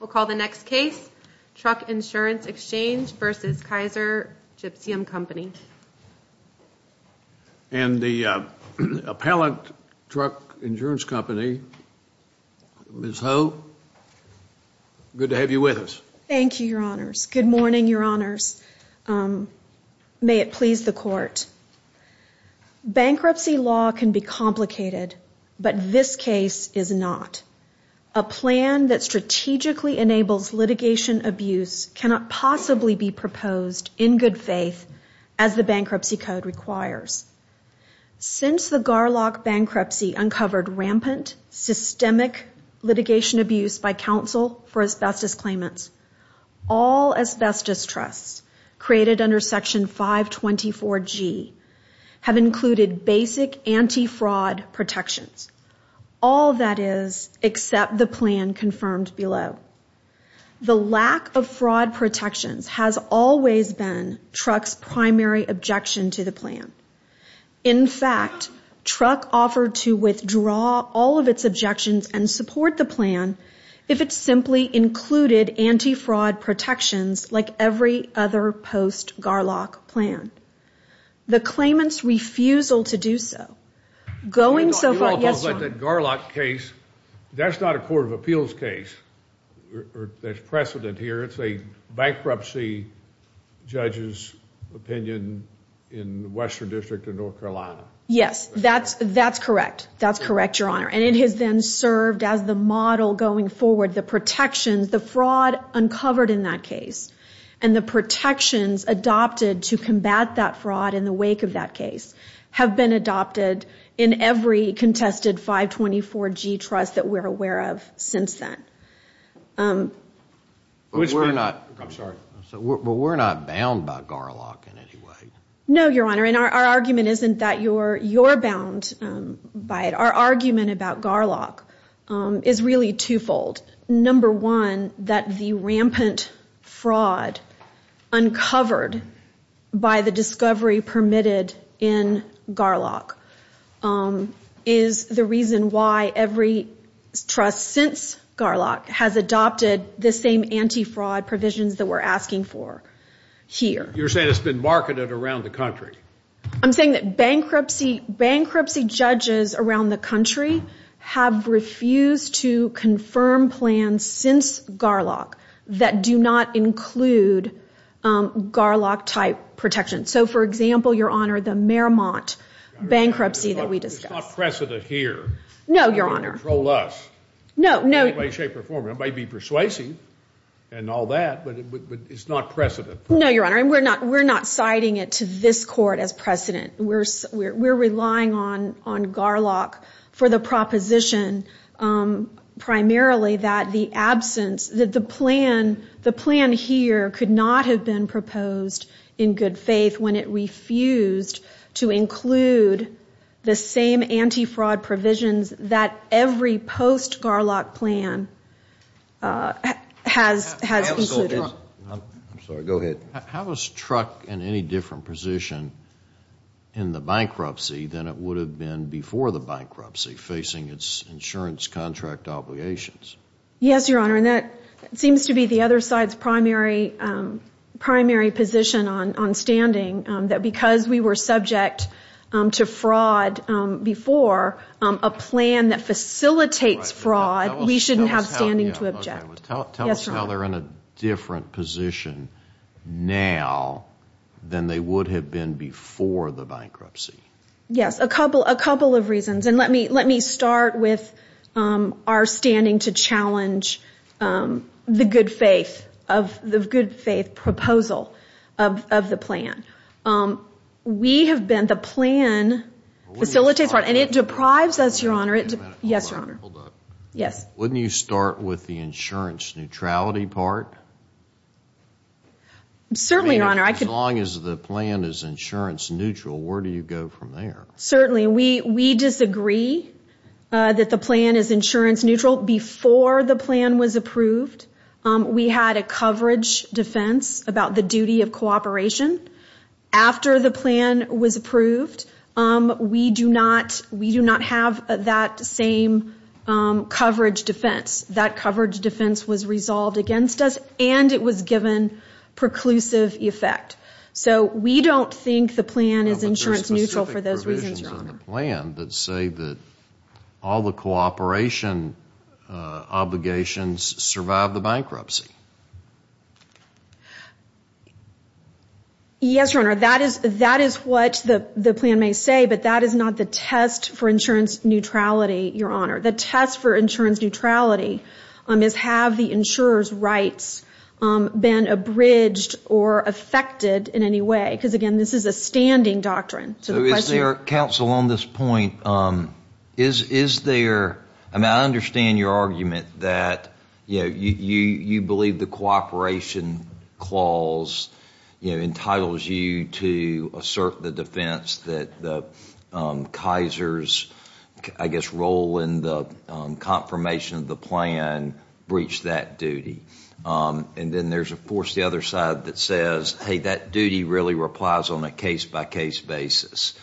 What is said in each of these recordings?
We'll call the next case, Truck Insurance Exchange v. Kaiser Gypsum Company. And the appellant, Truck Insurance Company, Ms. Ho, good to have you with us. Thank you, Your Honors. Good morning, Your Honors. May it please the Court. Bankruptcy law can be complicated, but this case is not. A plan that strategically enables litigation abuse cannot possibly be proposed in good faith as the Bankruptcy Code requires. Since the Garlock bankruptcy uncovered rampant, systemic litigation abuse by counsel for asbestos claimants, all asbestos trusts created under Section 524G have included basic anti-fraud protections. All that is, except the plan confirmed below. The lack of fraud protections has always been Truck's primary objection to the plan. In fact, Truck offered to withdraw all of its objections and support the plan if it simply included anti-fraud protections like every other post-Garlock plan. The claimant's refusal to do so, going so far... You're talking about that Garlock case. That's not a Court of Appeals case. There's precedent here. It's a bankruptcy judge's opinion in the Western District of North Carolina. Yes. That's correct. That's correct, Your Honor. And it has then served as the model going forward, the protections, the fraud uncovered in that case, and the protections adopted to combat that fraud in the wake of that case have been adopted in every contested 524G trust that we're aware of since then. We're not bound by Garlock in any way. No, Your Honor. Our argument isn't that you're bound by it. Our argument about Garlock is really twofold. Number one, that the rampant fraud uncovered by the discovery permitted in Garlock is the reason why every trust since Garlock has adopted the same anti-fraud provisions that we're asking for here. You're saying it's been marketed around the country. I'm saying that bankruptcy judges around the country have refused to confirm plans since Garlock that do not include Garlock-type protections. So, for example, Your Honor, the Merrimont bankruptcy that we discussed. It's not precedent here. No, Your Honor. Nobody can control us. No, no. In any way, shape, or form. It might be persuasive and all that, but it's not precedent. No, Your Honor. We're not citing it to this Court as precedent. We're relying on Garlock for the proposition primarily that the absence, that the plan here could not have been proposed in good faith when it refused to include the same anti-fraud provisions that every post-Garlock plan has included. I'm sorry. Go ahead. How is Truck in any different position in the bankruptcy than it would have been before the bankruptcy, facing its insurance contract obligations? Yes, Your Honor, and that seems to be the other side's primary position on standing, that because we were subject to fraud before, a plan that facilitates fraud, we shouldn't have standing to object. Tell us how they're in a different position now than they would have been before the bankruptcy. Yes, a couple of reasons, and let me start with our standing to challenge the good faith proposal of the plan. We have been, the plan facilitates fraud, and it deprives us, Your Honor. Yes, Your Honor. Hold up. Yes. Wouldn't you start with the insurance neutrality part? Certainly, Your Honor, I could... As long as the plan is insurance neutral, where do you go from there? Certainly. We disagree that the plan is insurance neutral. Before the plan was approved, we had a coverage defense about the duty of cooperation. After the plan was approved, we do not have that same coverage defense. That coverage defense was resolved against us, and it was given preclusive effect. We don't think the plan is insurance neutral for those reasons, Your Honor. Yes, Your Honor, that is what the plan may say, but that is not the test for insurance neutrality, Your Honor. The test for insurance neutrality is have the insurer's rights been abridged or affected in any way, because again, this is a standing doctrine. Is there, counsel, on this point, is there... I understand your argument that you believe the cooperation clause entitles you to assert the defense that the Kaiser's, I guess, role in the confirmation of the plan breached that duty, and then there's, of course, the other side that says, hey, that duty really replies on a case-by-case basis.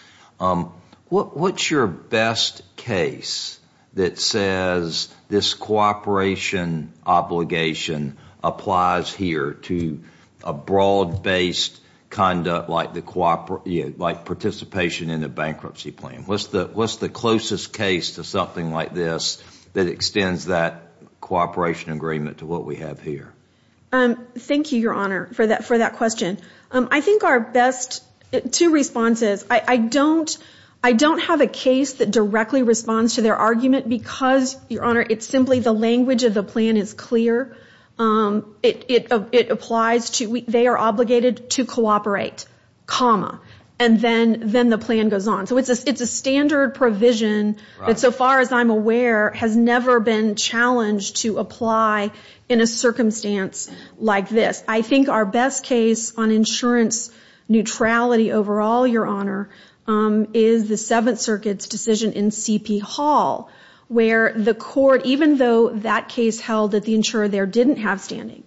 What's your best case that says this cooperation obligation applies here to a broad-based conduct like participation in a bankruptcy plan? What's the closest case to something like this that extends that cooperation agreement to what we have here? Thank you, Your Honor, for that question. I think our best two responses... I don't have a case that directly responds to their argument because, Your Honor, it's simply the language of the plan is clear. It applies to... They are obligated to cooperate, comma, and then the plan goes on. It's a standard provision that, so far as I'm aware, has never been challenged to apply in a circumstance like this. I think our best case on insurance neutrality overall, Your Honor, is the Seventh Circuit's decision in C.P. Hall where the court, even though that case held that the insurer there didn't have standing,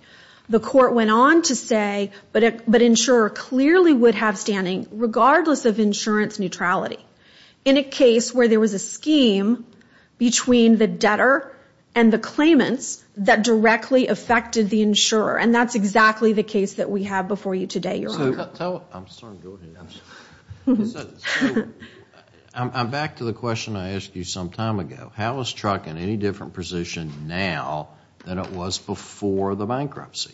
the court went on to say, but insurer clearly would have standing regardless of insurance neutrality. In a case where there was a scheme between the debtor and the claimants that directly affected the insurer, and that's exactly the case that we have before you today, Your Honor. I'm back to the question I asked you some time ago. How is TRUC in any different position now than it was before the bankruptcy?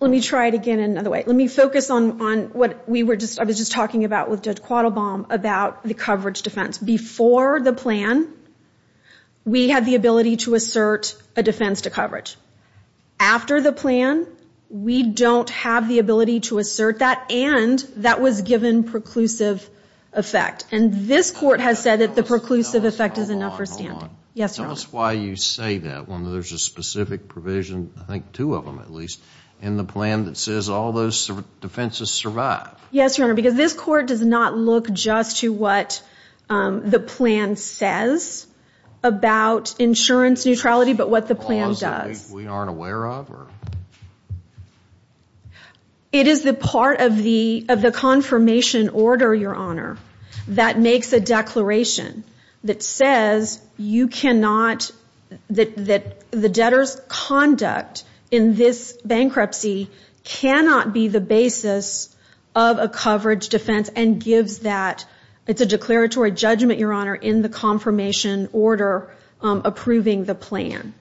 Let me try it again another way. Let me focus on what I was just talking about with Judge Quattlebaum about the coverage defense. Before the plan, we had the ability to assert a defense to coverage. After the plan, we don't have the ability to assert that, and that was given preclusive effect. This court has said that the preclusive effect is enough for standing. Hold on, hold on. Tell us why you say that when there's a specific provision, I think two of them at least, in the plan that says all those defenses survive. Yes, Your Honor, because this court does not look just to what the plan says about insurance neutrality, but what the plan does. We aren't aware of? It is the part of the confirmation order, Your Honor, that makes a declaration that says you cannot, that the debtor's conduct in this bankruptcy cannot be the basis of a coverage defense and gives that, it's a declaratory judgment, Your Honor, in the confirmation order approving the plan.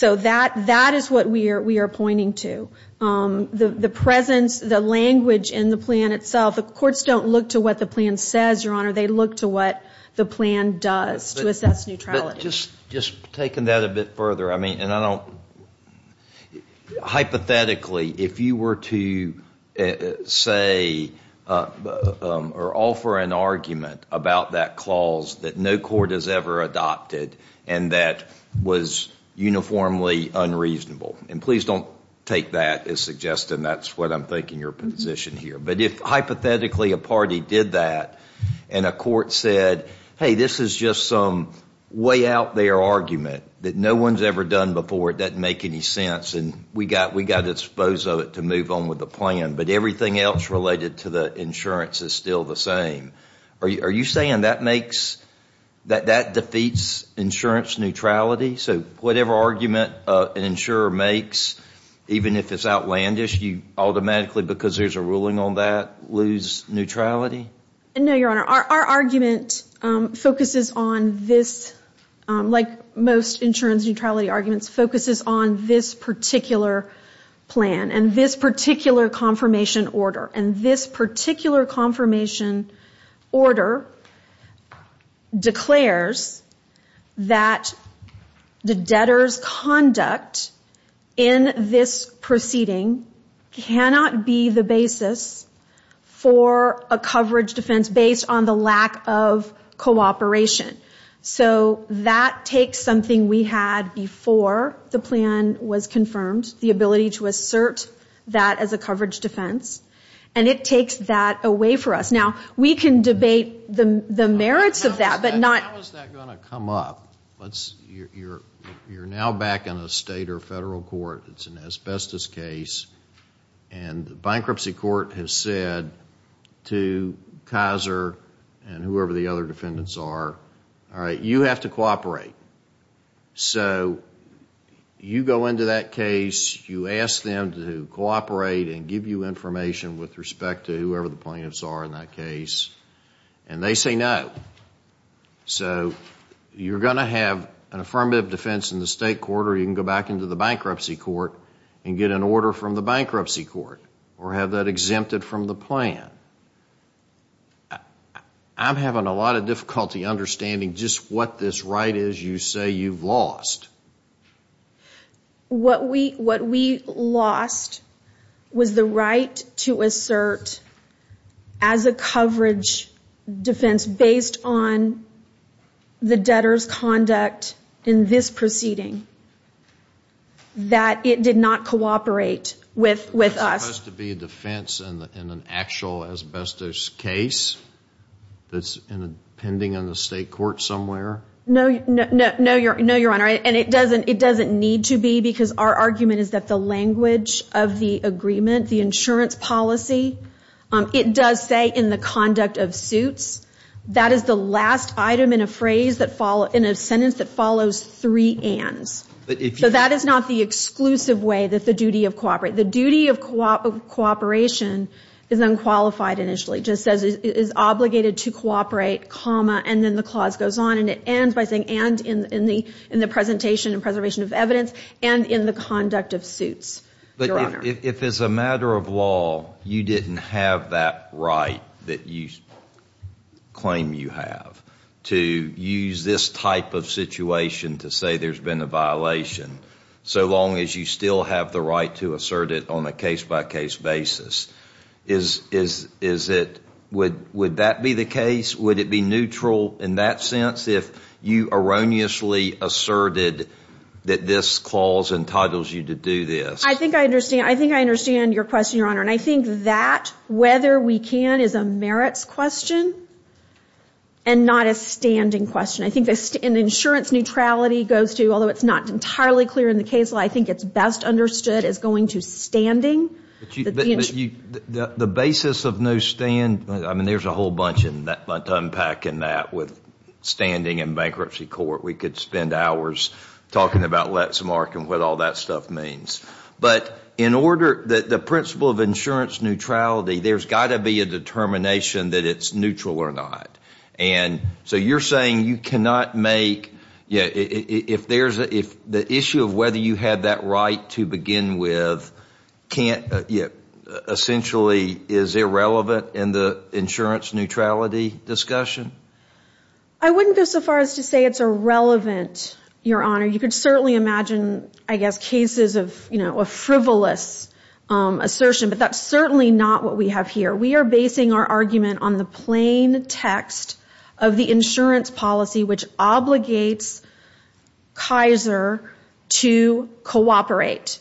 That is what we are pointing to. The presence, the language in the plan itself, the courts don't look to what the plan says, Your Honor, they look to what the plan does to assess neutrality. Just taking that a bit further, I mean, and I don't, hypothetically, if you were to say or offer an argument about that clause that no court has ever adopted and that was uniformly unreasonable, and please don't take that as suggesting that's what I'm thinking your position here, but if hypothetically a party did that and a court said, hey, this is just some way out there argument that no one's ever done before, it doesn't make any sense, and we got to dispose of it to move on with the plan, but everything else related to the insurance is still the same, are you saying that makes, that defeats insurance neutrality? Whatever argument an insurer makes, even if it's outlandish, you automatically, because there's a ruling on that, lose neutrality? No, Your Honor, our argument focuses on this, like most insurance neutrality arguments, focuses on this particular plan and this particular confirmation order, and this particular confirmation order declares that the debtor's conduct in this proceeding cannot be the basis of the plan, for a coverage defense based on the lack of cooperation, so that takes something we had before the plan was confirmed, the ability to assert that as a coverage defense, and it takes that away from us. Now, we can debate the merits of that, but not How is that going to come up? You're now back in a state or federal court, it's an asbestos case, and the bankruptcy court has said to Kaiser and whoever the other defendants are, you have to cooperate, so you go into that case, you ask them to cooperate and give you information with respect to whoever the plaintiffs are in that case, and they say no. You're going to have an affirmative defense in the state court, or you can go back into the bankruptcy court and get an order from the bankruptcy court, or have that exempted from the plan. I'm having a lot of difficulty understanding just what this right is you say you've lost. What we lost was the right to assert as a coverage defense based on the debtor's conduct in this proceeding. That it did not cooperate with us. It's supposed to be a defense in an actual asbestos case that's pending on the state court somewhere? No, Your Honor, and it doesn't need to be, because our argument is that the language of the agreement, the insurance policy, it does say in the conduct of suits. That is the last item in a sentence that follows three ands. So that is not the exclusive way that the duty of cooperation, the duty of cooperation is unqualified initially. It just says it is obligated to cooperate, and then the clause goes on and it ends by saying and in the presentation and preservation of evidence, and in the conduct of suits. But if as a matter of law you didn't have that right that you claim you have to use this type of situation to say there's been a violation, so long as you still have the right to assert it on a case-by-case basis, would that be the case? Would it be neutral in that sense if you erroneously asserted that this clause entitles you to do this? I think I understand your question, Your Honor, and I think that whether we can is a merits question and not a standing question. Insurance neutrality goes to, although it's not entirely clear in the case law, I think it's best understood as going to standing. The basis of no stand, there's a whole bunch in that unpacking that with standing in bankruptcy court. We could spend hours talking about let's mark and what all that stuff means. But in order that the principle of insurance neutrality, there's got to be a determination that it's neutral or not. And so you're saying you cannot make, if the issue of whether you had that right to begin with can't, essentially is irrelevant in the insurance neutrality discussion? I wouldn't go so far as to say it's irrelevant, Your Honor. You could certainly imagine I guess cases of frivolous assertion, but that's certainly not what we have here. We are basing our argument on the plain text of the insurance policy which obligates Kaiser to cooperate,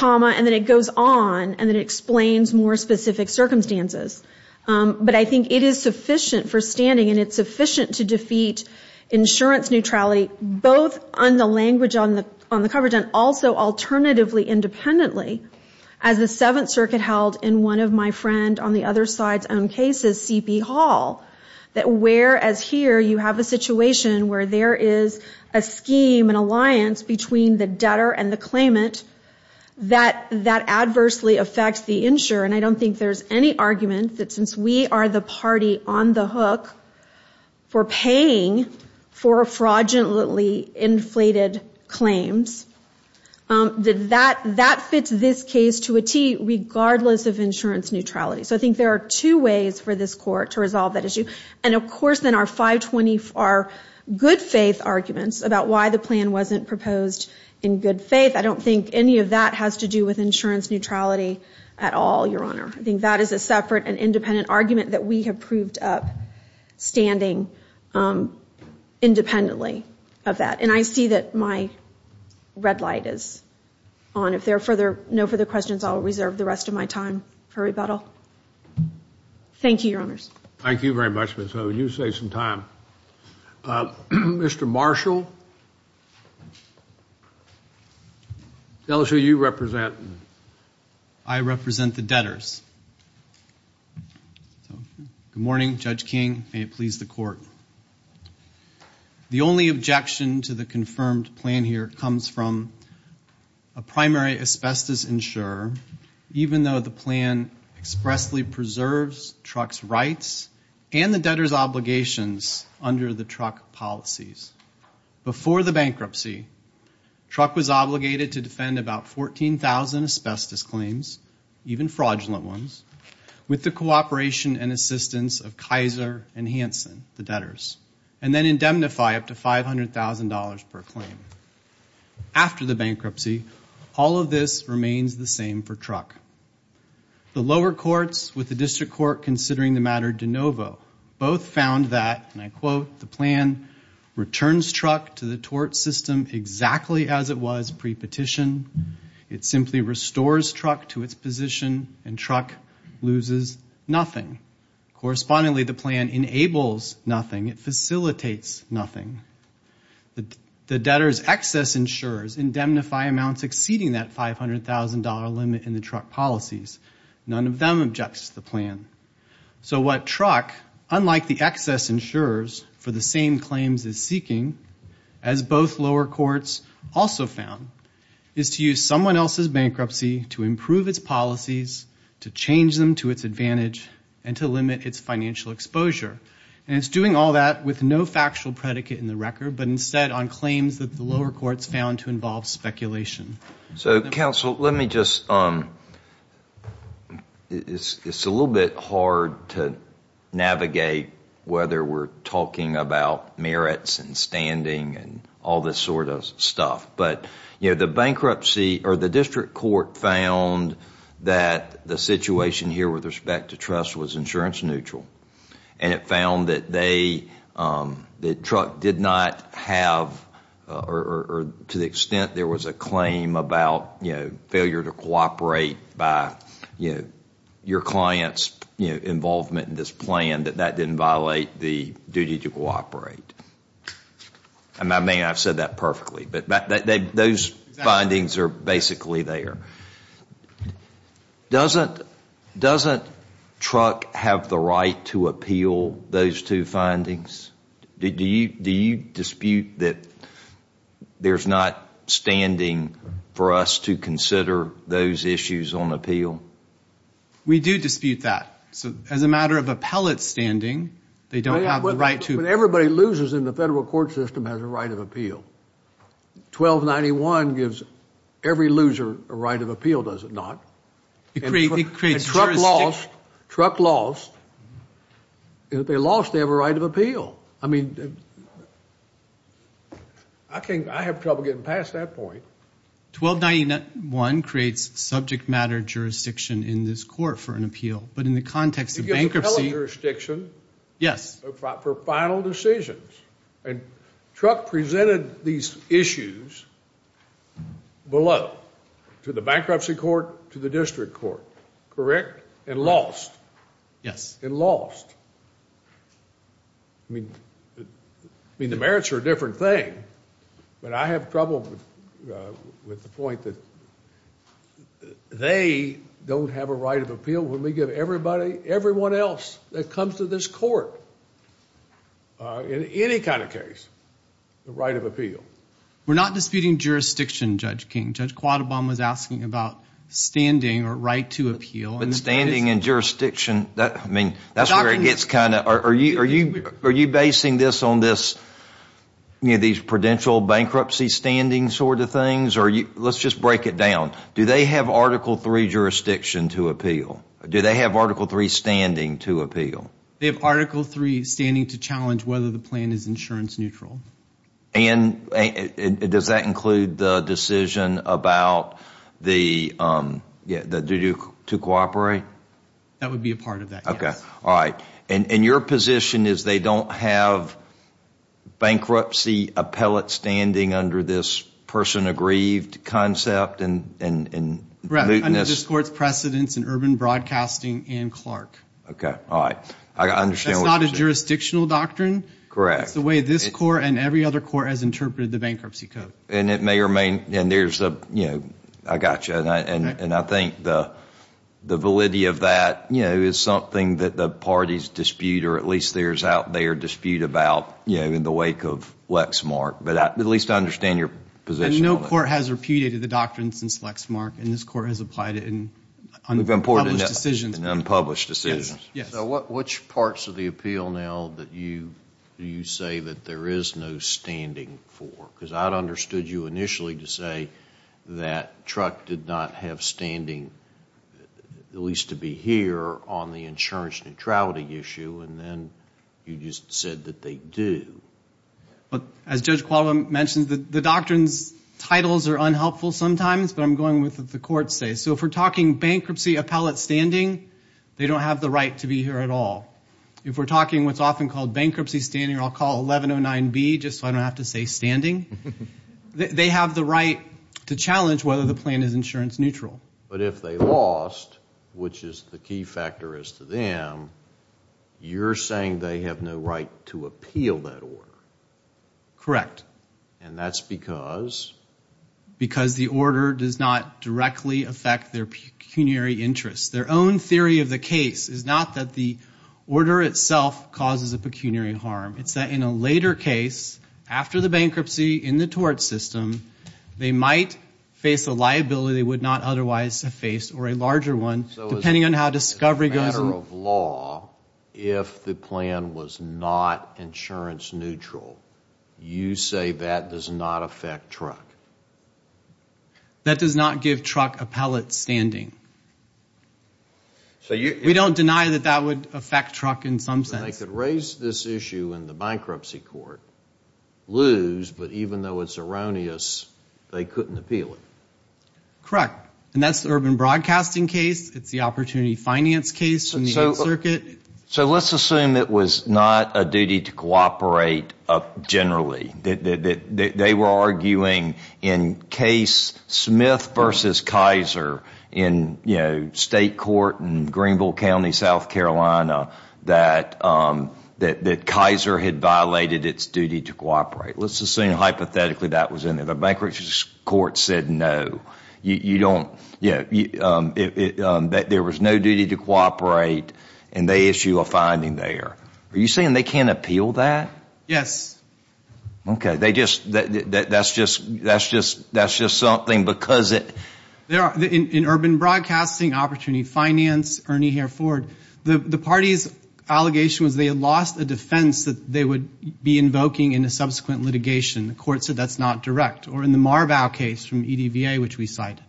and then it goes on and it explains more specific circumstances. But I think it is sufficient for standing and it's sufficient to defeat insurance neutrality both on the language on the coverage and also alternatively independently as the Seventh Circuit held and one of my friends on the other side's own case, C.P. Hall, that whereas here you have a situation where there is a scheme, an alliance between the debtor and the claimant that adversely affects the insurer. And I don't think there's any argument that since we are the party on the hook for paying for fraudulently inflated claims, that that fits this case to a T regardless of insurance neutrality. So I think there are two ways for this court to resolve that issue. And of course then our 520, our good faith arguments about why the plan wasn't proposed in good faith, I don't think any of that has to do with insurance neutrality at all, Your Honor. I think that is a separate and independent argument that we have proved up standing independently of that. And I see that my red light is on. If there are no further questions, I'll reserve the rest of my time for rebuttal. Thank you, Your Honors. Thank you very much, Ms. Hogan. You saved some time. Mr. Marshall, tell us who you represent. I represent the debtors. Good morning, Judge King. May it please the court. The only objection to the confirmed plan here comes from a primary asbestos insurer, even though the plan expressly preserves Truck's rights and the debtors' obligations under the Truck policies. Before the bankruptcy, Truck was obligated to defend about 14,000 asbestos claims, even fraudulent ones, with the cooperation and assistance of Kaiser and Hanson, the debtors, and then $100,000 per claim. After the bankruptcy, all of this remains the same for Truck. The lower courts, with the district court considering the matter de novo, both found that, and I quote, the plan, "...returns Truck to the tort system exactly as it was pre-petition. It simply restores Truck to its position, and Truck loses nothing. Correspondingly, the plan enables nothing. It facilitates nothing. The debtors' excess insurers indemnify amounts exceeding that $500,000 limit in the Truck policies. None of them objects to the plan. So what Truck, unlike the excess insurers for the same claims it's seeking, as both lower courts also found, is to use someone else's bankruptcy to improve its policies, to change them to its advantage, and to limit its financial exposure. And it's doing all that with no factual predicate in the record, but instead on claims that the lower courts found to involve speculation. So counsel, let me just, it's a little bit hard to navigate whether we're talking about merits and standing and all this sort of stuff. But, you know, the bankruptcy, or the district court, found that the situation here with respect to trust was insurance neutral. And it found that they, that Truck did not have, or to the extent there was a claim about failure to cooperate by your client's involvement in this plan, that that didn't violate the duty to cooperate. I mean, I've said that perfectly, but those findings are basically there. Doesn't Truck have the right to appeal those two findings? Do you dispute that there's not standing for us to consider those issues on appeal? We do dispute that. As a matter of appellate standing, they don't have the right to. Everybody who loses in the federal court system has a right of appeal. 1291 gives every loser a right of appeal, does it not? And Truck lost, and if they lost, they have a right of appeal. I mean, I can't, I have trouble getting past that point. 1291 creates subject matter jurisdiction in this court for an appeal, but in the context of bankruptcy- It gives appellate jurisdiction for final decisions. And Truck presented these issues below, to the bankruptcy court, to the district court, correct? And lost. Yes. And lost. I mean, the merits are a different thing, but I have trouble with the point that they don't have a right of appeal when we give everybody, everyone else that comes to this court, in any kind of case, the right of appeal. We're not disputing jurisdiction, Judge King. Judge Quadobom was asking about standing or right to appeal. But standing and jurisdiction, that's where it gets kind of, are you basing this on these prudential bankruptcy standing sort of things? Let's just break it down. Do they have Article 3 jurisdiction to appeal? Do they have Article 3 standing to appeal? They have Article 3 standing to challenge whether the plan is insurance neutral. And does that include the decision about the, do you, to cooperate? That would be a part of that, yes. Okay. All right. And your position is they don't have bankruptcy appellate standing under this person aggrieved concept and- Correct. Under this court's precedence in urban broadcasting and Clark. Okay. All right. I understand what you're saying. That's not a jurisdictional doctrine. Correct. That's the way this court and every other court has interpreted the bankruptcy code. And it may remain, and there's a, you know, I got you. And I think the validity of that, you know, is something that the parties dispute, or at least there's out there dispute about, you know, in the wake of Lexmark. But at least I understand your position on that. And no court has repudiated the doctrine since Lexmark. And this court has applied it in unpublished decisions. We've imported it in unpublished decisions. Yes. So which parts of the appeal now that you say that there is no standing for? Because I'd understood you initially to say that Truck did not have standing, at least to be here, on the insurance neutrality issue. And then you just said that they do. As Judge Qualum mentioned, the doctrine's titles are unhelpful sometimes. But I'm going with what the courts say. So if we're talking bankruptcy appellate standing, they don't have the right to be here at all. If we're talking what's often called bankruptcy standing, I'll call 1109B, just so I don't have to say standing. They have the right to challenge whether the plan is insurance neutral. But if they lost, which is the key factor as to them, you're saying they have no right to appeal that order. Correct. And that's because? Because the order does not directly affect their pecuniary interests. Their own theory of the case is not that the order itself causes a pecuniary harm. It's that in a later case, after the bankruptcy in the tort system, they might face a liability they would not otherwise have faced, or a larger one, depending on how discovery goes. So as a matter of law, if the plan was not insurance neutral, you say that does not affect Truck? That does not give Truck appellate standing. We don't deny that that would affect Truck in some sense. They could raise this issue in the bankruptcy court, lose, but even though it's erroneous, they couldn't appeal it. Correct. And that's the urban broadcasting case. It's the opportunity finance case in the 8th Circuit. So let's assume it was not a duty to cooperate generally. They were arguing in case Smith v. Kaiser in state court in Greenville County, South Carolina, that Kaiser had violated its duty to cooperate. Let's assume hypothetically that was in there. The bankruptcy court said no. There was no duty to cooperate, and they issue a finding there. Are you saying they can't appeal that? Yes. Okay. That's just something because it... In urban broadcasting opportunity finance, Ernie Hereford, the party's allegation was they had lost a defense that they would be invoking in a subsequent litigation. The court said that's not direct. Or in the Marvau case from EDVA, which we cited,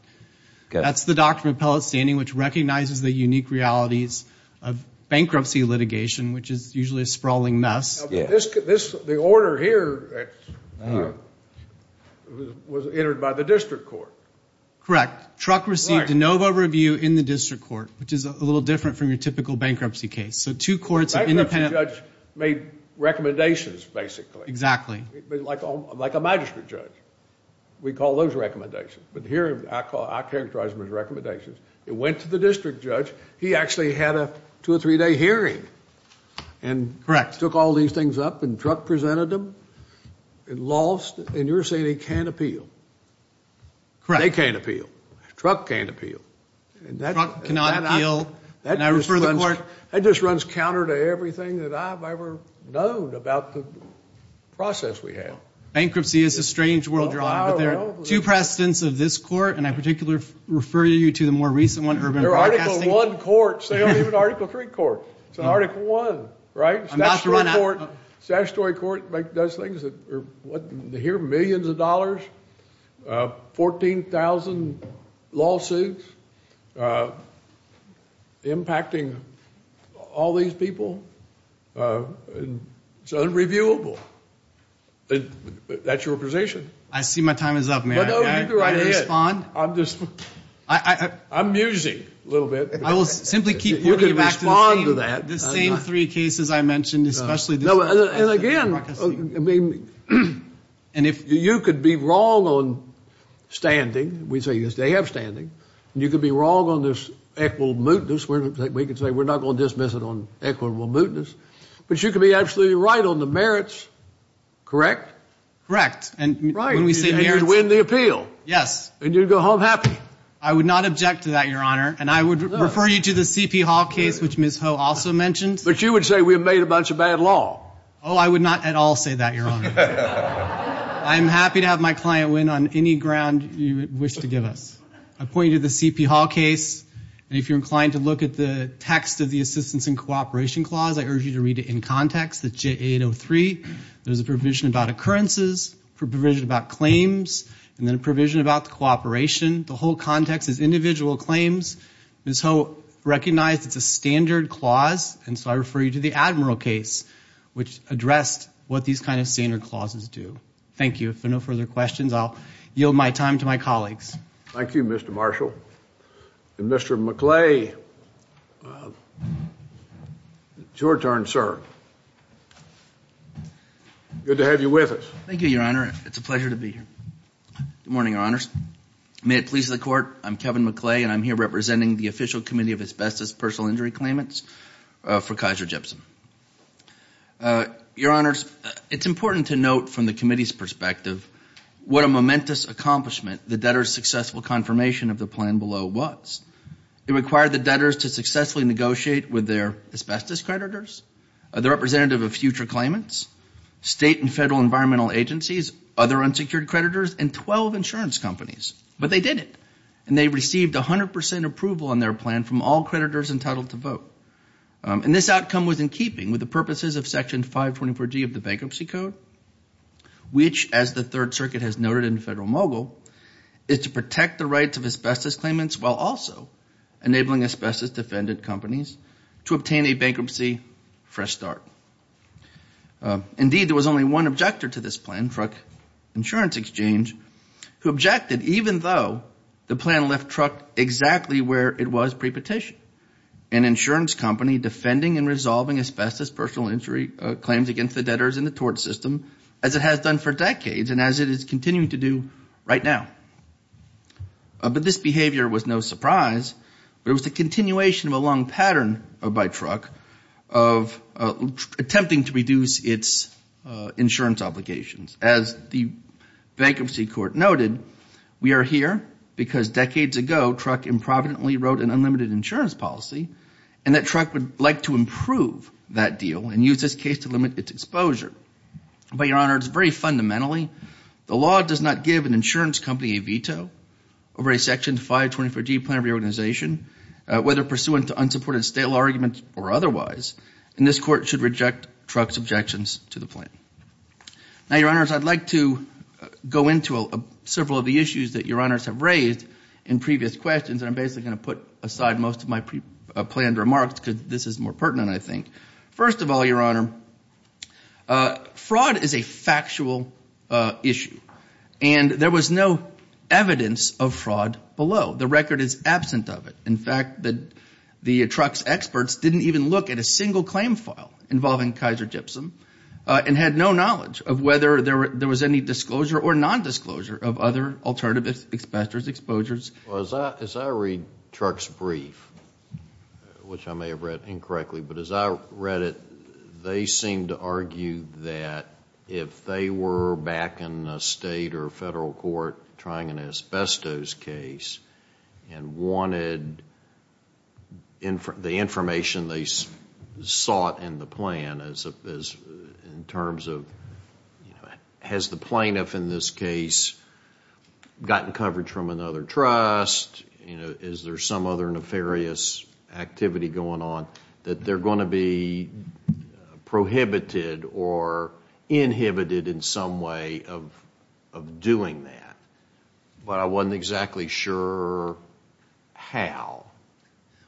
that's the doctrine of appellate standing, which recognizes the unique realities of bankruptcy litigation, which is usually a sprawling mess. The order here was entered by the district court. Correct. Truck received de novo review in the district court, which is a little different from your typical bankruptcy case. So two courts of independent... The bankruptcy judge made recommendations, basically. Exactly. Like a magistrate judge. We call those recommendations. But here, I characterize them as recommendations. It went to the district judge. He actually had a two- or three-day hearing and took all these things up, and Truck presented them. It lost. And you're saying he can't appeal. Correct. They can't appeal. Truck can't appeal. Truck cannot appeal. And I refer the court... That just runs counter to everything that I've ever known about the process we have. Bankruptcy is a strange world, Your Honor, but there are two precedents of this court, and I particularly refer you to the more recent one, urban broadcasting... They're Article I courts. They don't even have an Article III court. It's an Article I, right? I'm about to run out. Statutory court does things that are, what, they hear millions of dollars, 14,000 lawsuits, impacting all these people. It's unreviewable. That's your position. I see my time is up, Mayor. No, you do right ahead. Can I respond? I'm just... I... I'm musing a little bit. I will simply keep... You can respond to that. The same three cases I mentioned, especially... And again, you could be wrong on standing. We say, yes, they have standing. You could be wrong on this equitable mootness. We can say we're not going to dismiss it on equitable mootness. But you could be absolutely right on the merits, correct? Correct. Right. And you'd win the appeal. Yes. And you'd go home happy. I would not object to that, Your Honor. And I would refer you to the C.P. Hall case, which Ms. Ho also mentioned. But you would say we have made a bunch of bad law. Oh, I would not at all say that, Your Honor. I'm happy to have my client win on any ground you wish to give us. I point you to the C.P. Hall case. And if you're inclined to look at the text of the Assistance in Cooperation Clause, I urge you to read it in context, the J803. There's a provision about occurrences, a provision about claims, and then a provision about the cooperation. The whole context is individual claims. Ms. Ho recognized it's a standard clause, and so I refer you to the Admiral case, which addressed what these kind of standard clauses do. Thank you. If there are no further questions, I'll yield my time to my colleagues. Thank you, Mr. Marshall. Mr. McClay, it's your turn, sir. Good to have you with us. Thank you, Your Honor. It's a pleasure to be here. Good morning, Your Honors. May it please the Court, I'm Kevin McClay, and I'm here representing the Official Committee of Asbestos Personal Injury Claimants for Kaiser Jepson. Your Honors, it's important to note from the committee's perspective what a momentous accomplishment the debtors' successful confirmation of the plan below was. It required the debtors to successfully negotiate with their asbestos creditors, the representative of future claimants, state and federal environmental agencies, other unsecured creditors, and 12 insurance companies. But they did it, and they received 100% approval on their plan from all creditors entitled to vote. And this outcome was in keeping with the purposes of Section 524G of the Bankruptcy Code, which, as the Third Circuit has noted in Federal Mogul, is to protect the rights of asbestos claimants while also enabling asbestos-defendant companies to obtain a bankruptcy fresh start. Indeed, there was only one objector to this plan, Truck Insurance Exchange, who objected even though the plan left Truck exactly where it was pre-petition, an insurance company defending and resolving asbestos personal injury claims against the debtors in the tort system as it has done for decades and as it is continuing to do right now. But this behavior was no surprise. It was the continuation of a long pattern by Truck of attempting to reduce its insurance obligations. As the Bankruptcy Court noted, we are here because decades ago, Truck improvidently wrote an unlimited insurance policy, and that Truck would like to improve that deal and use this case to limit its exposure. But, Your Honor, it's very fundamentally, the law does not give an insurance company a veto over a Section 524G plan of reorganization, whether pursuant to unsupported stale arguments or otherwise, and this Court should reject Truck's objections to the plan. Now, Your Honors, I'd like to go into several of the issues that Your Honors have raised in previous questions, and I'm basically going to put aside most of my planned remarks because this is more pertinent, I think. First of all, Your Honor, fraud is a factual issue, and there was no evidence of fraud below. The record is absent of it. In fact, the Truck's experts didn't even look at a single claim file involving Kaiser Gypsum and had no knowledge of whether there was any disclosure or nondisclosure of other alternative expenditures, exposures. As I read Truck's brief, which I may have read incorrectly, but as I read it, they seemed to argue that if they were back in a state or federal court trying an asbestos case and wanted the information they sought in the plan in terms of has the plaintiff in this case gotten coverage from another trust, is there some other nefarious activity going on, that they're going to be prohibited or inhibited in some way of doing that? But I wasn't exactly sure how.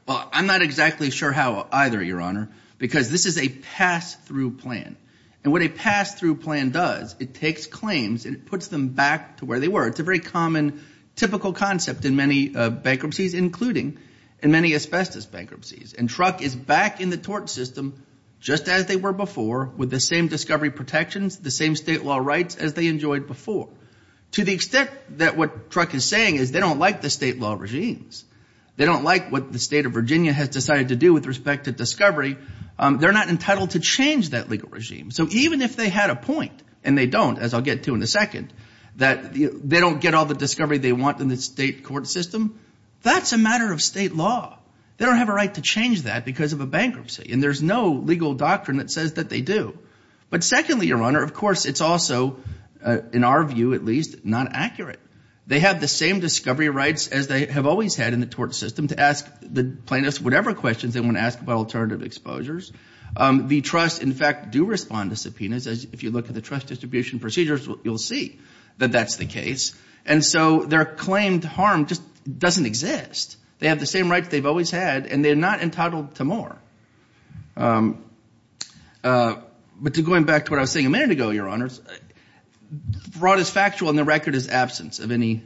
Well, I'm not exactly sure how either, Your Honor, because this is a pass-through plan, and what a pass-through plan does, it takes claims and it puts them back to where they were. It's a very common, typical concept in many bankruptcies, including in many asbestos bankruptcies, and Truck is back in the tort system just as they were before with the same discovery protections, the same state law rights as they enjoyed before. To the extent that what Truck is saying is they don't like the state law regimes, they don't like what the state of Virginia has decided to do with respect to discovery, they're not entitled to change that legal regime. So even if they had a point, and they don't, as I'll get to in a second, that they don't get all the discovery they want in the state court system, that's a matter of state law. They don't have a right to change that because of a bankruptcy, and there's no legal doctrine that says that they do. But secondly, Your Honor, of course, it's also, in our view at least, not accurate. They have the same discovery rights as they have always had in the tort system to ask the plaintiffs whatever questions they want to ask about alternative exposures. The trusts, in fact, do respond to subpoenas. If you look at the trust distribution procedures, you'll see that that's the case. And so their claimed harm just doesn't exist. They have the same rights they've always had, and they're not entitled to more. But going back to what I was saying a minute ago, Your Honors, fraud is factual and the record is absent of any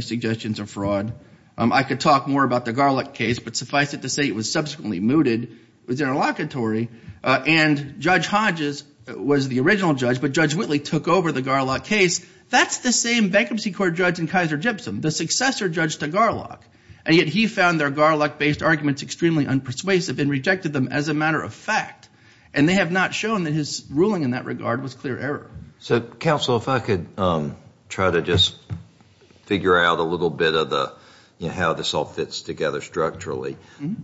suggestions of fraud. I could talk more about the Garlock case, but suffice it to say it was subsequently mooted, it was interlocutory, and Judge Hodges was the original judge, but Judge Whitley took over the Garlock case. That's the same bankruptcy court judge in Kaiser Gypsum, the successor judge to Garlock. And yet he found their Garlock-based arguments extremely unpersuasive and rejected them as a matter of fact. And they have not shown that his ruling in that regard was clear error. So, counsel, if I could try to just figure out a little bit of how this all fits together structurally.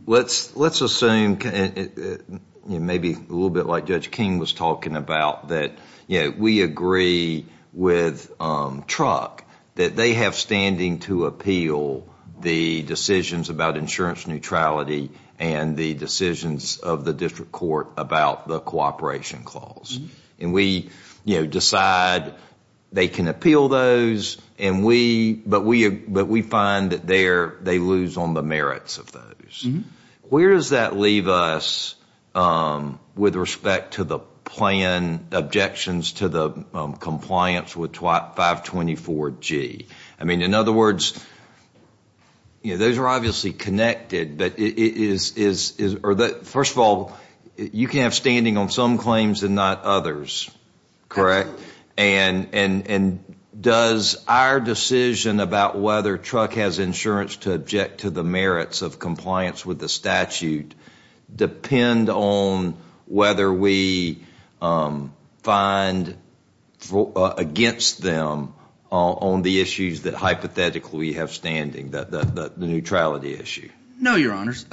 Let's assume maybe a little bit like Judge King was talking about, that we agree with Truck that they have standing to appeal the decisions about insurance neutrality and the decisions of the district court about the cooperation clause. And we decide they can appeal those, but we find that they lose on the merits of those. Where does that leave us with respect to the plan objections to the compliance with 524G? I mean, in other words, those are obviously connected, but first of all, you can have standing on some claims and not others, correct? And does our decision about whether Truck has insurance to object to the merits of compliance with the statute depend on whether we find against them on the issues that hypothetically we have standing, the neutrality issue? No, Your Honors.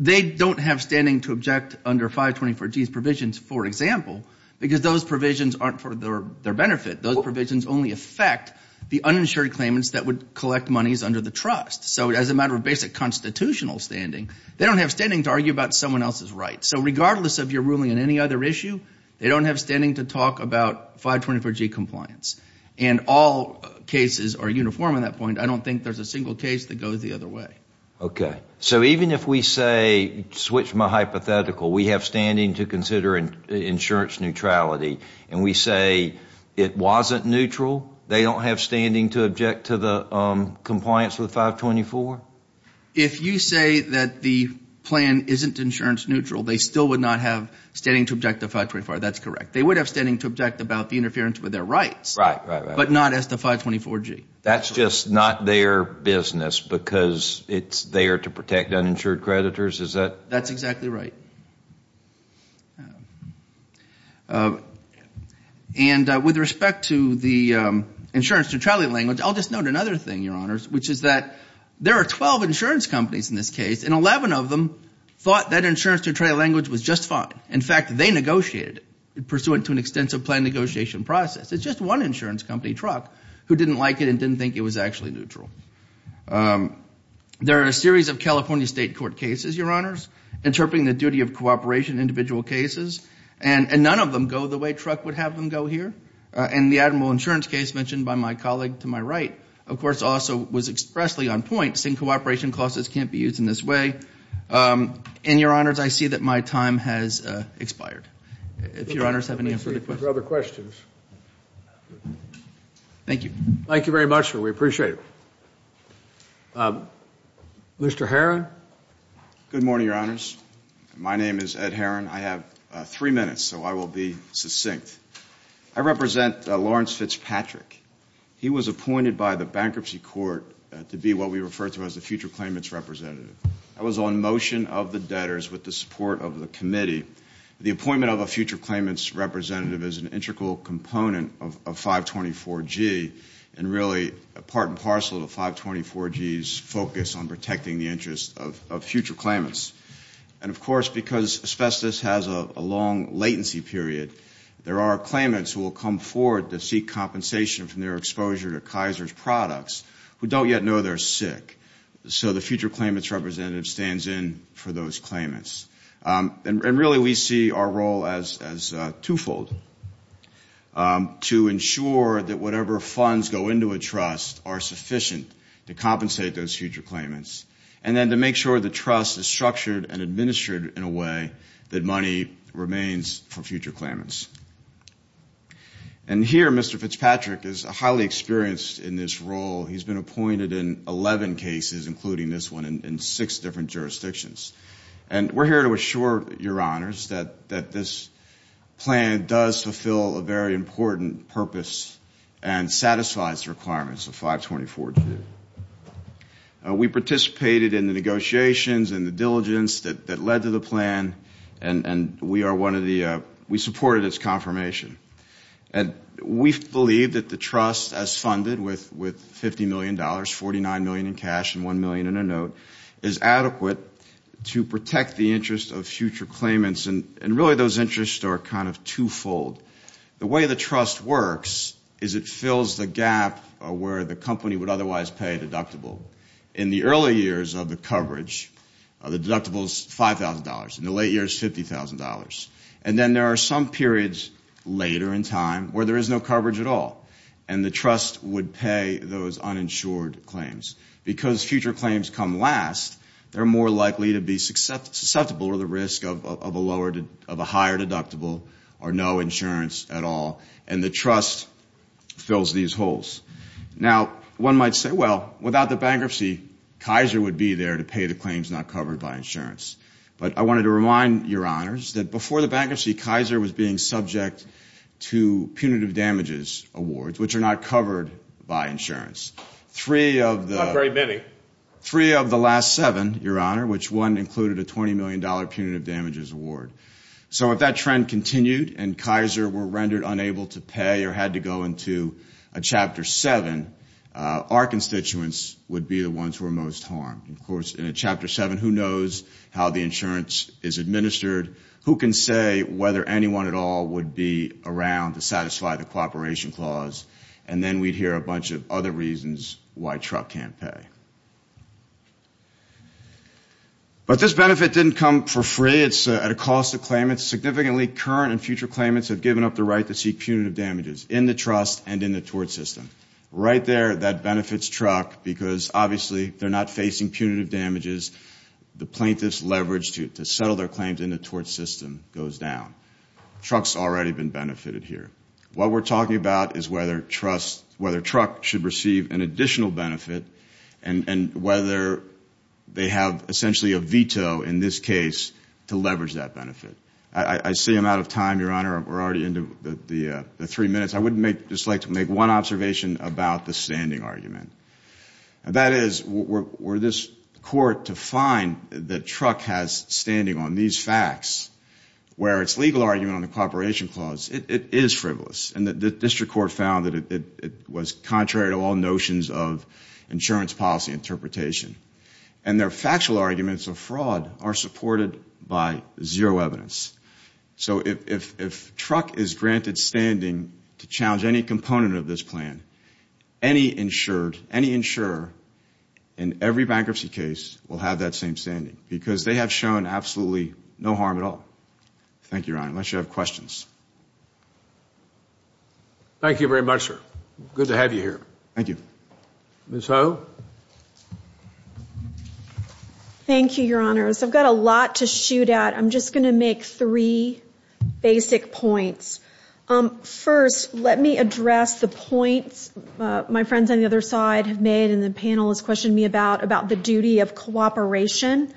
They don't have standing to object under 524G's provisions, for example, because those provisions aren't for their benefit. Those provisions only affect the uninsured claimants that would collect monies under the trust. So as a matter of basic constitutional standing, they don't have standing to argue about someone else's rights. So regardless of your ruling on any other issue, they don't have standing to talk about 524G compliance. And all cases are uniform on that point. I don't think there's a single case that goes the other way. Okay. So even if we say, switch my hypothetical, we have standing to consider insurance neutrality, and we say it wasn't neutral, they don't have standing to object to the compliance with 524? If you say that the plan isn't insurance neutral, they still would not have standing to object to 524. That's correct. They would have standing to object about the interference with their rights, but not as to 524G. That's just not their business because it's there to protect uninsured creditors, is that? That's exactly right. And with respect to the insurance neutrality language, I'll just note another thing, Your Honors, which is that there are 12 insurance companies in this case, and 11 of them thought that insurance neutrality language was just fine. In fact, they negotiated it pursuant to an extensive plan negotiation process. It's just one insurance company, Truck, who didn't like it and didn't think it was actually neutral. There are a series of California state court cases, Your Honors, interpreting the duty of cooperation in individual cases, and none of them go the way Truck would have them go here. And the admiral insurance case mentioned by my colleague to my right, of course, also was expressly on point, saying cooperation clauses can't be used in this way. And, Your Honors, I see that my time has expired. If Your Honors have any further questions. Thank you. Thank you very much, sir. We appreciate it. Mr. Herron? Good morning, Your Honors. My name is Ed Herron. I have three minutes, so I will be succinct. I represent Lawrence Fitzpatrick. He was appointed by the Bankruptcy Court to be what we refer to as the future claimants representative. I was on motion of the debtors with the support of the committee. The appointment of a future claimants representative is an integral component of 524G and really part and parcel of 524G's focus on protecting the interests of future claimants. And, of course, because asbestos has a long latency period, there are claimants who will come forward to seek compensation from their exposure to Kaiser's products who don't yet know they're sick. So the future claimants representative stands in for those claimants. And really we see our role as twofold, to ensure that whatever funds go into a trust are sufficient to compensate those future claimants, and then to make sure the trust is structured and administered in a way that money remains for future claimants. And here Mr. Fitzpatrick is highly experienced in this role. He's been appointed in 11 cases, including this one, in six different jurisdictions. And we're here to assure your honors that this plan does fulfill a very important purpose and satisfies the requirements of 524G. We participated in the negotiations and the diligence that led to the plan, and we supported its confirmation. And we believe that the trust, as funded with $50 million, $49 million in cash and $1 million in a note, is adequate to protect the interest of future claimants. And really those interests are kind of twofold. The way the trust works is it fills the gap where the company would otherwise pay a deductible. In the early years of the coverage, the deductible is $5,000. In the late years, $50,000. And then there are some periods later in time where there is no coverage at all, and the trust would pay those uninsured claims. Because future claims come last, they're more likely to be susceptible or the risk of a higher deductible or no insurance at all. And the trust fills these holes. Now, one might say, well, without the bankruptcy, Kaiser would be there to pay the claims not covered by insurance. And indeed, Kaiser was being subject to punitive damages awards, which are not covered by insurance. Not very many. Three of the last seven, Your Honor, which one included a $20 million punitive damages award. So if that trend continued and Kaiser were rendered unable to pay or had to go into a Chapter 7, our constituents would be the ones who are most harmed. Of course, in a Chapter 7, who knows how the insurance is administered? Who can say whether anyone at all would be around to satisfy the cooperation clause? And then we'd hear a bunch of other reasons why truck can't pay. But this benefit didn't come for free. It's at a cost to claimants. Significantly, current and future claimants have given up the right to seek punitive damages in the trust and in the tort system. Right there, that benefits truck because, obviously, they're not facing punitive damages. The plaintiff's leverage to settle their claims in the tort system goes down. Truck's already been benefited here. What we're talking about is whether truck should receive an additional benefit and whether they have essentially a veto in this case to leverage that benefit. I see I'm out of time, Your Honor. We're already into the three minutes. I would just like to make one observation about the standing argument. That is, were this court to find that truck has standing on these facts, where its legal argument on the cooperation clause, it is frivolous, and the district court found that it was contrary to all notions of insurance policy interpretation, and their factual arguments of fraud are supported by zero evidence. If truck is granted standing to challenge any component of this plan, any insured, any insurer in every bankruptcy case will have that same standing because they have shown absolutely no harm at all. Thank you, Your Honor. Unless you have questions. Thank you very much, sir. Good to have you here. Thank you. Ms. Ho? Thank you, Your Honors. I've got a lot to shoot at. I'm just going to make three basic points. First, let me address the points my friends on the other side have made and the panel has questioned me about, about the duty of cooperation.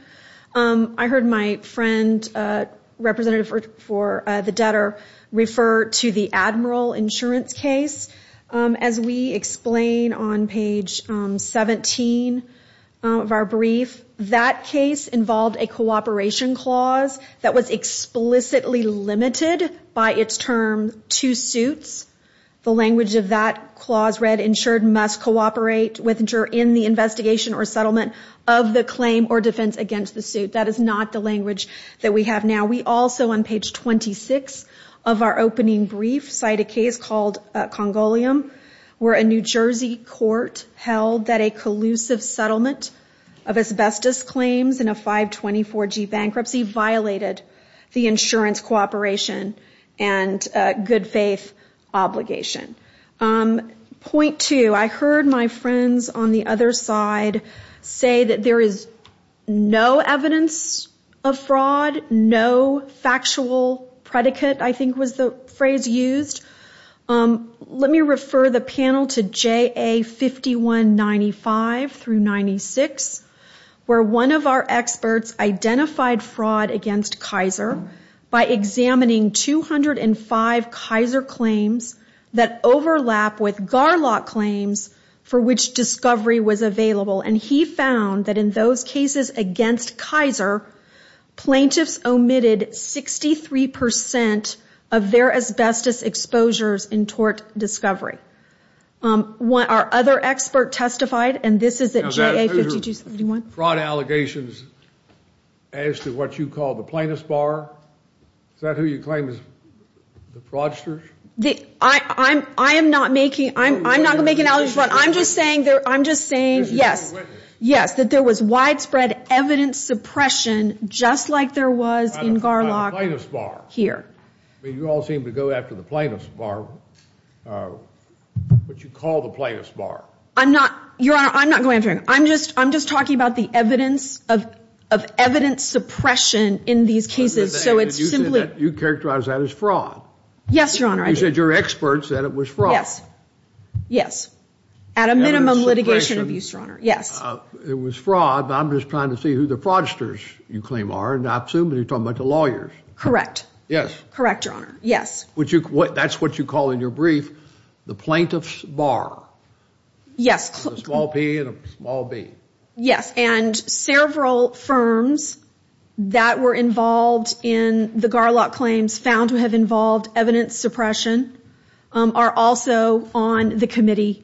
I heard my friend, representative for the debtor, refer to the Admiral Insurance case. As we explain on page 17 of our brief, that case involved a cooperation clause that was explicitly limited by its term to suits. The language of that clause read, insured must cooperate with insurer in the investigation or settlement of the claim or defense against the suit. That is not the language that we have now. We also, on page 26 of our opening brief, cite a case called Congolium, where a New Jersey court held that a collusive settlement of asbestos claims in a 524G bankruptcy violated the insurance cooperation and good faith obligation. Point two, I heard my friends on the other side say that there is no evidence of fraud, no factual predicate, I think was the phrase used. Let me refer the panel to JA 5195 through 96, where one of our experts identified fraud against Kaiser by examining 205 Kaiser claims that overlap with Garlock claims for which discovery was available. And he found that in those cases against Kaiser, plaintiffs omitted 63% of their asbestos exposures in tort discovery. Our other expert testified, and this is at JA 5271. Are those fraud allegations as to what you call the plaintiff's bar? Is that who you claim is the fraudsters? I'm not going to make an allegation, but I'm just saying, yes, that there was widespread evidence suppression just like there was in Garlock here. You all seem to go after the plaintiff's bar, what you call the plaintiff's bar. I'm not, Your Honor, I'm not going after it. I'm just talking about the evidence of evidence suppression in these cases. You characterized that as fraud. Yes, Your Honor, I did. You said your expert said it was fraud. Yes. Yes. At a minimum litigation abuse, Your Honor. Yes. It was fraud, but I'm just trying to see who the fraudsters you claim are, and I assume you're talking about the lawyers. Correct. Yes. Correct, Your Honor. Yes. That's what you call in your brief the plaintiff's bar. Yes. A small P and a small B. Yes, and several firms that were involved in the Garlock claims found to have involved evidence suppression are also on the committee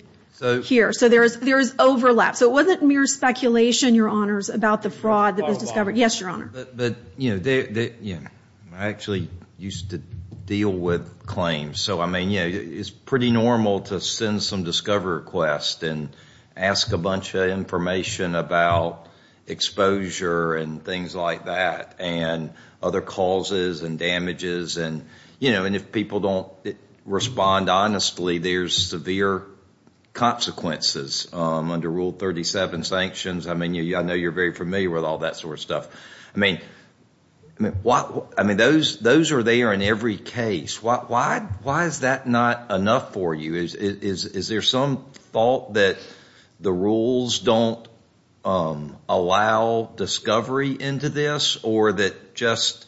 here. So there is overlap. So it wasn't mere speculation, Your Honors, about the fraud that was discovered. Yes, Your Honor. But, you know, I actually used to deal with claims. So, I mean, it's pretty normal to send some discovery request and ask a bunch of information about exposure and things like that and other causes and damages. And, you know, if people don't respond honestly, there's severe consequences under Rule 37 sanctions. I mean, I know you're very familiar with all that sort of stuff. I mean, those are there in every case. Why is that not enough for you? Is there some fault that the rules don't allow discovery into this or that just,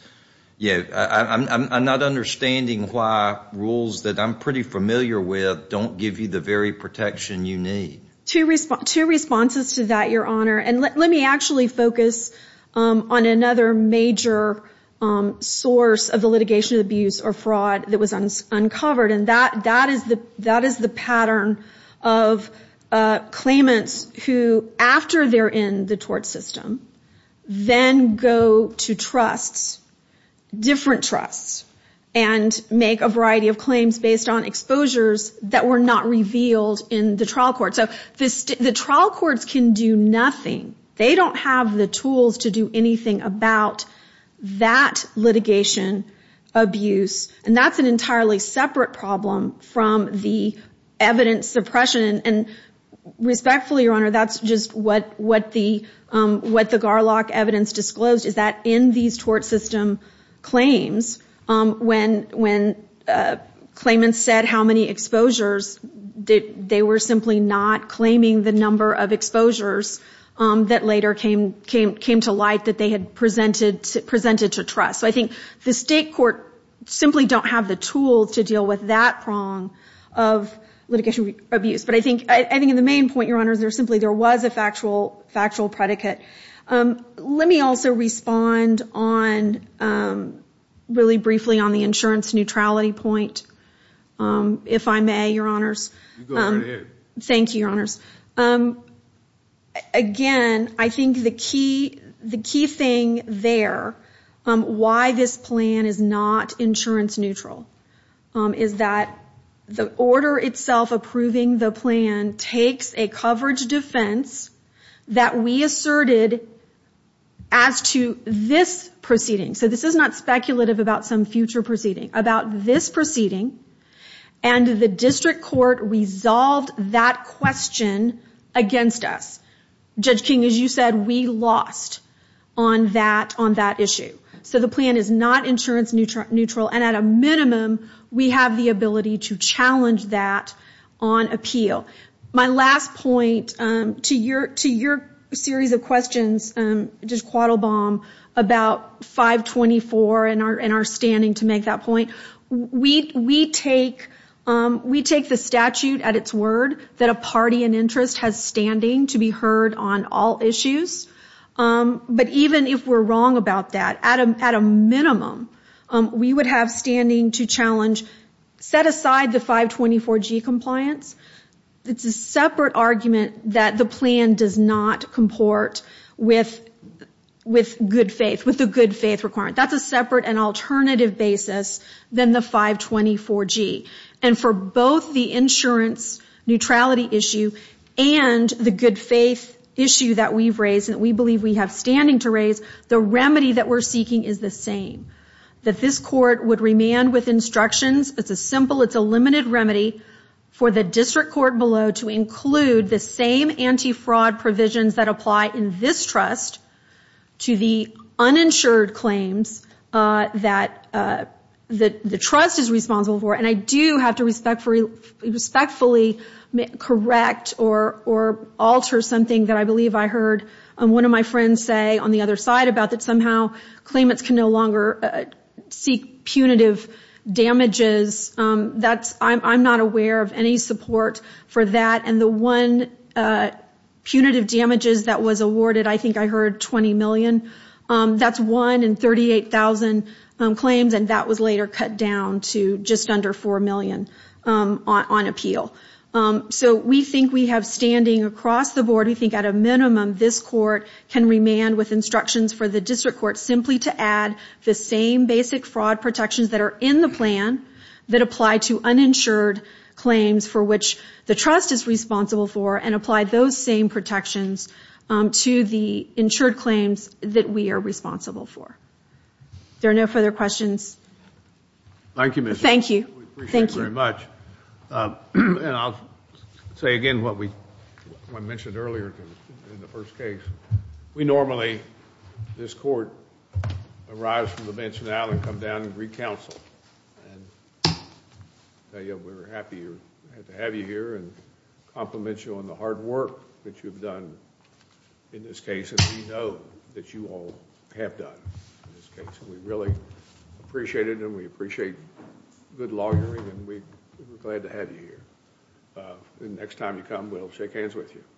you know, I'm not understanding why rules that I'm pretty familiar with don't give you the very protection you need. Two responses to that, Your Honor. And let me actually focus on another major source of the litigation of abuse or fraud that was uncovered. And that is the pattern of claimants who, after they're in the tort system, then go to trusts, different trusts, and make a variety of claims based on exposures that were not revealed in the trial court. So the trial courts can do nothing. They don't have the tools to do anything about that litigation abuse. And that's an entirely separate problem from the evidence suppression. And respectfully, Your Honor, that's just what the Garlock evidence disclosed, is that in these tort system claims, when claimants said how many exposures, they were simply not claiming the number of exposures that later came to light that they had presented to trusts. So I think the state court simply don't have the tools to deal with that prong of litigation abuse. But I think the main point, Your Honor, is there simply was a factual predicate. Let me also respond on, really briefly, on the insurance neutrality point, if I may, Your Honor. You go right ahead. Thank you, Your Honors. Again, I think the key thing there, why this plan is not insurance neutral, is that the order itself approving the plan takes a coverage defense that we asserted as to this proceeding. So this is not speculative about some future proceeding. About this proceeding, and the district court resolved that question against us. Judge King, as you said, we lost on that issue. So the plan is not insurance neutral, and at a minimum, we have the ability to challenge that on appeal. My last point to your series of questions, Judge Quattlebaum, about 524 and our standing to make that point. We take the statute at its word that a party in interest has standing to be heard on all issues. But even if we're wrong about that, at a minimum, we would have standing to challenge, set aside the 524G compliance. It's a separate argument that the plan does not comport with good faith, with the good faith requirement. That's a separate and alternative basis than the 524G. And for both the insurance neutrality issue and the good faith issue that we've raised, that we believe we have standing to raise, the remedy that we're seeking is the same. That this court would remand with instructions. It's a simple, it's a limited remedy for the district court below to include the same anti-fraud provisions that apply in this trust to the uninsured claims that the trust is responsible for. And I do have to respectfully correct or alter something that I believe I heard one of my friends say on the other side about that somehow claimants can no longer seek punitive damages. I'm not aware of any support for that. And the one punitive damages that was awarded, I think I heard $20 million. That's one in 38,000 claims, and that was later cut down to just under $4 million on appeal. So we think we have standing across the board, we think at a minimum, this court can remand with instructions for the district court simply to add the same basic fraud protections that are in the plan that apply to uninsured claims for which the trust is responsible for and apply those same protections to the insured claims that we are responsible for. There are no further questions. Thank you, Ms. Schultz. Thank you. We appreciate it very much. And I'll say again what we mentioned earlier in the first case. We normally, this court, arrives from the bench now and come down and recounsel. And we're happy to have you here and compliment you on the hard work that you've done in this case and we know that you all have done in this case. We really appreciate it and we appreciate good lawyering and we're glad to have you here. Next time you come, we'll shake hands with you.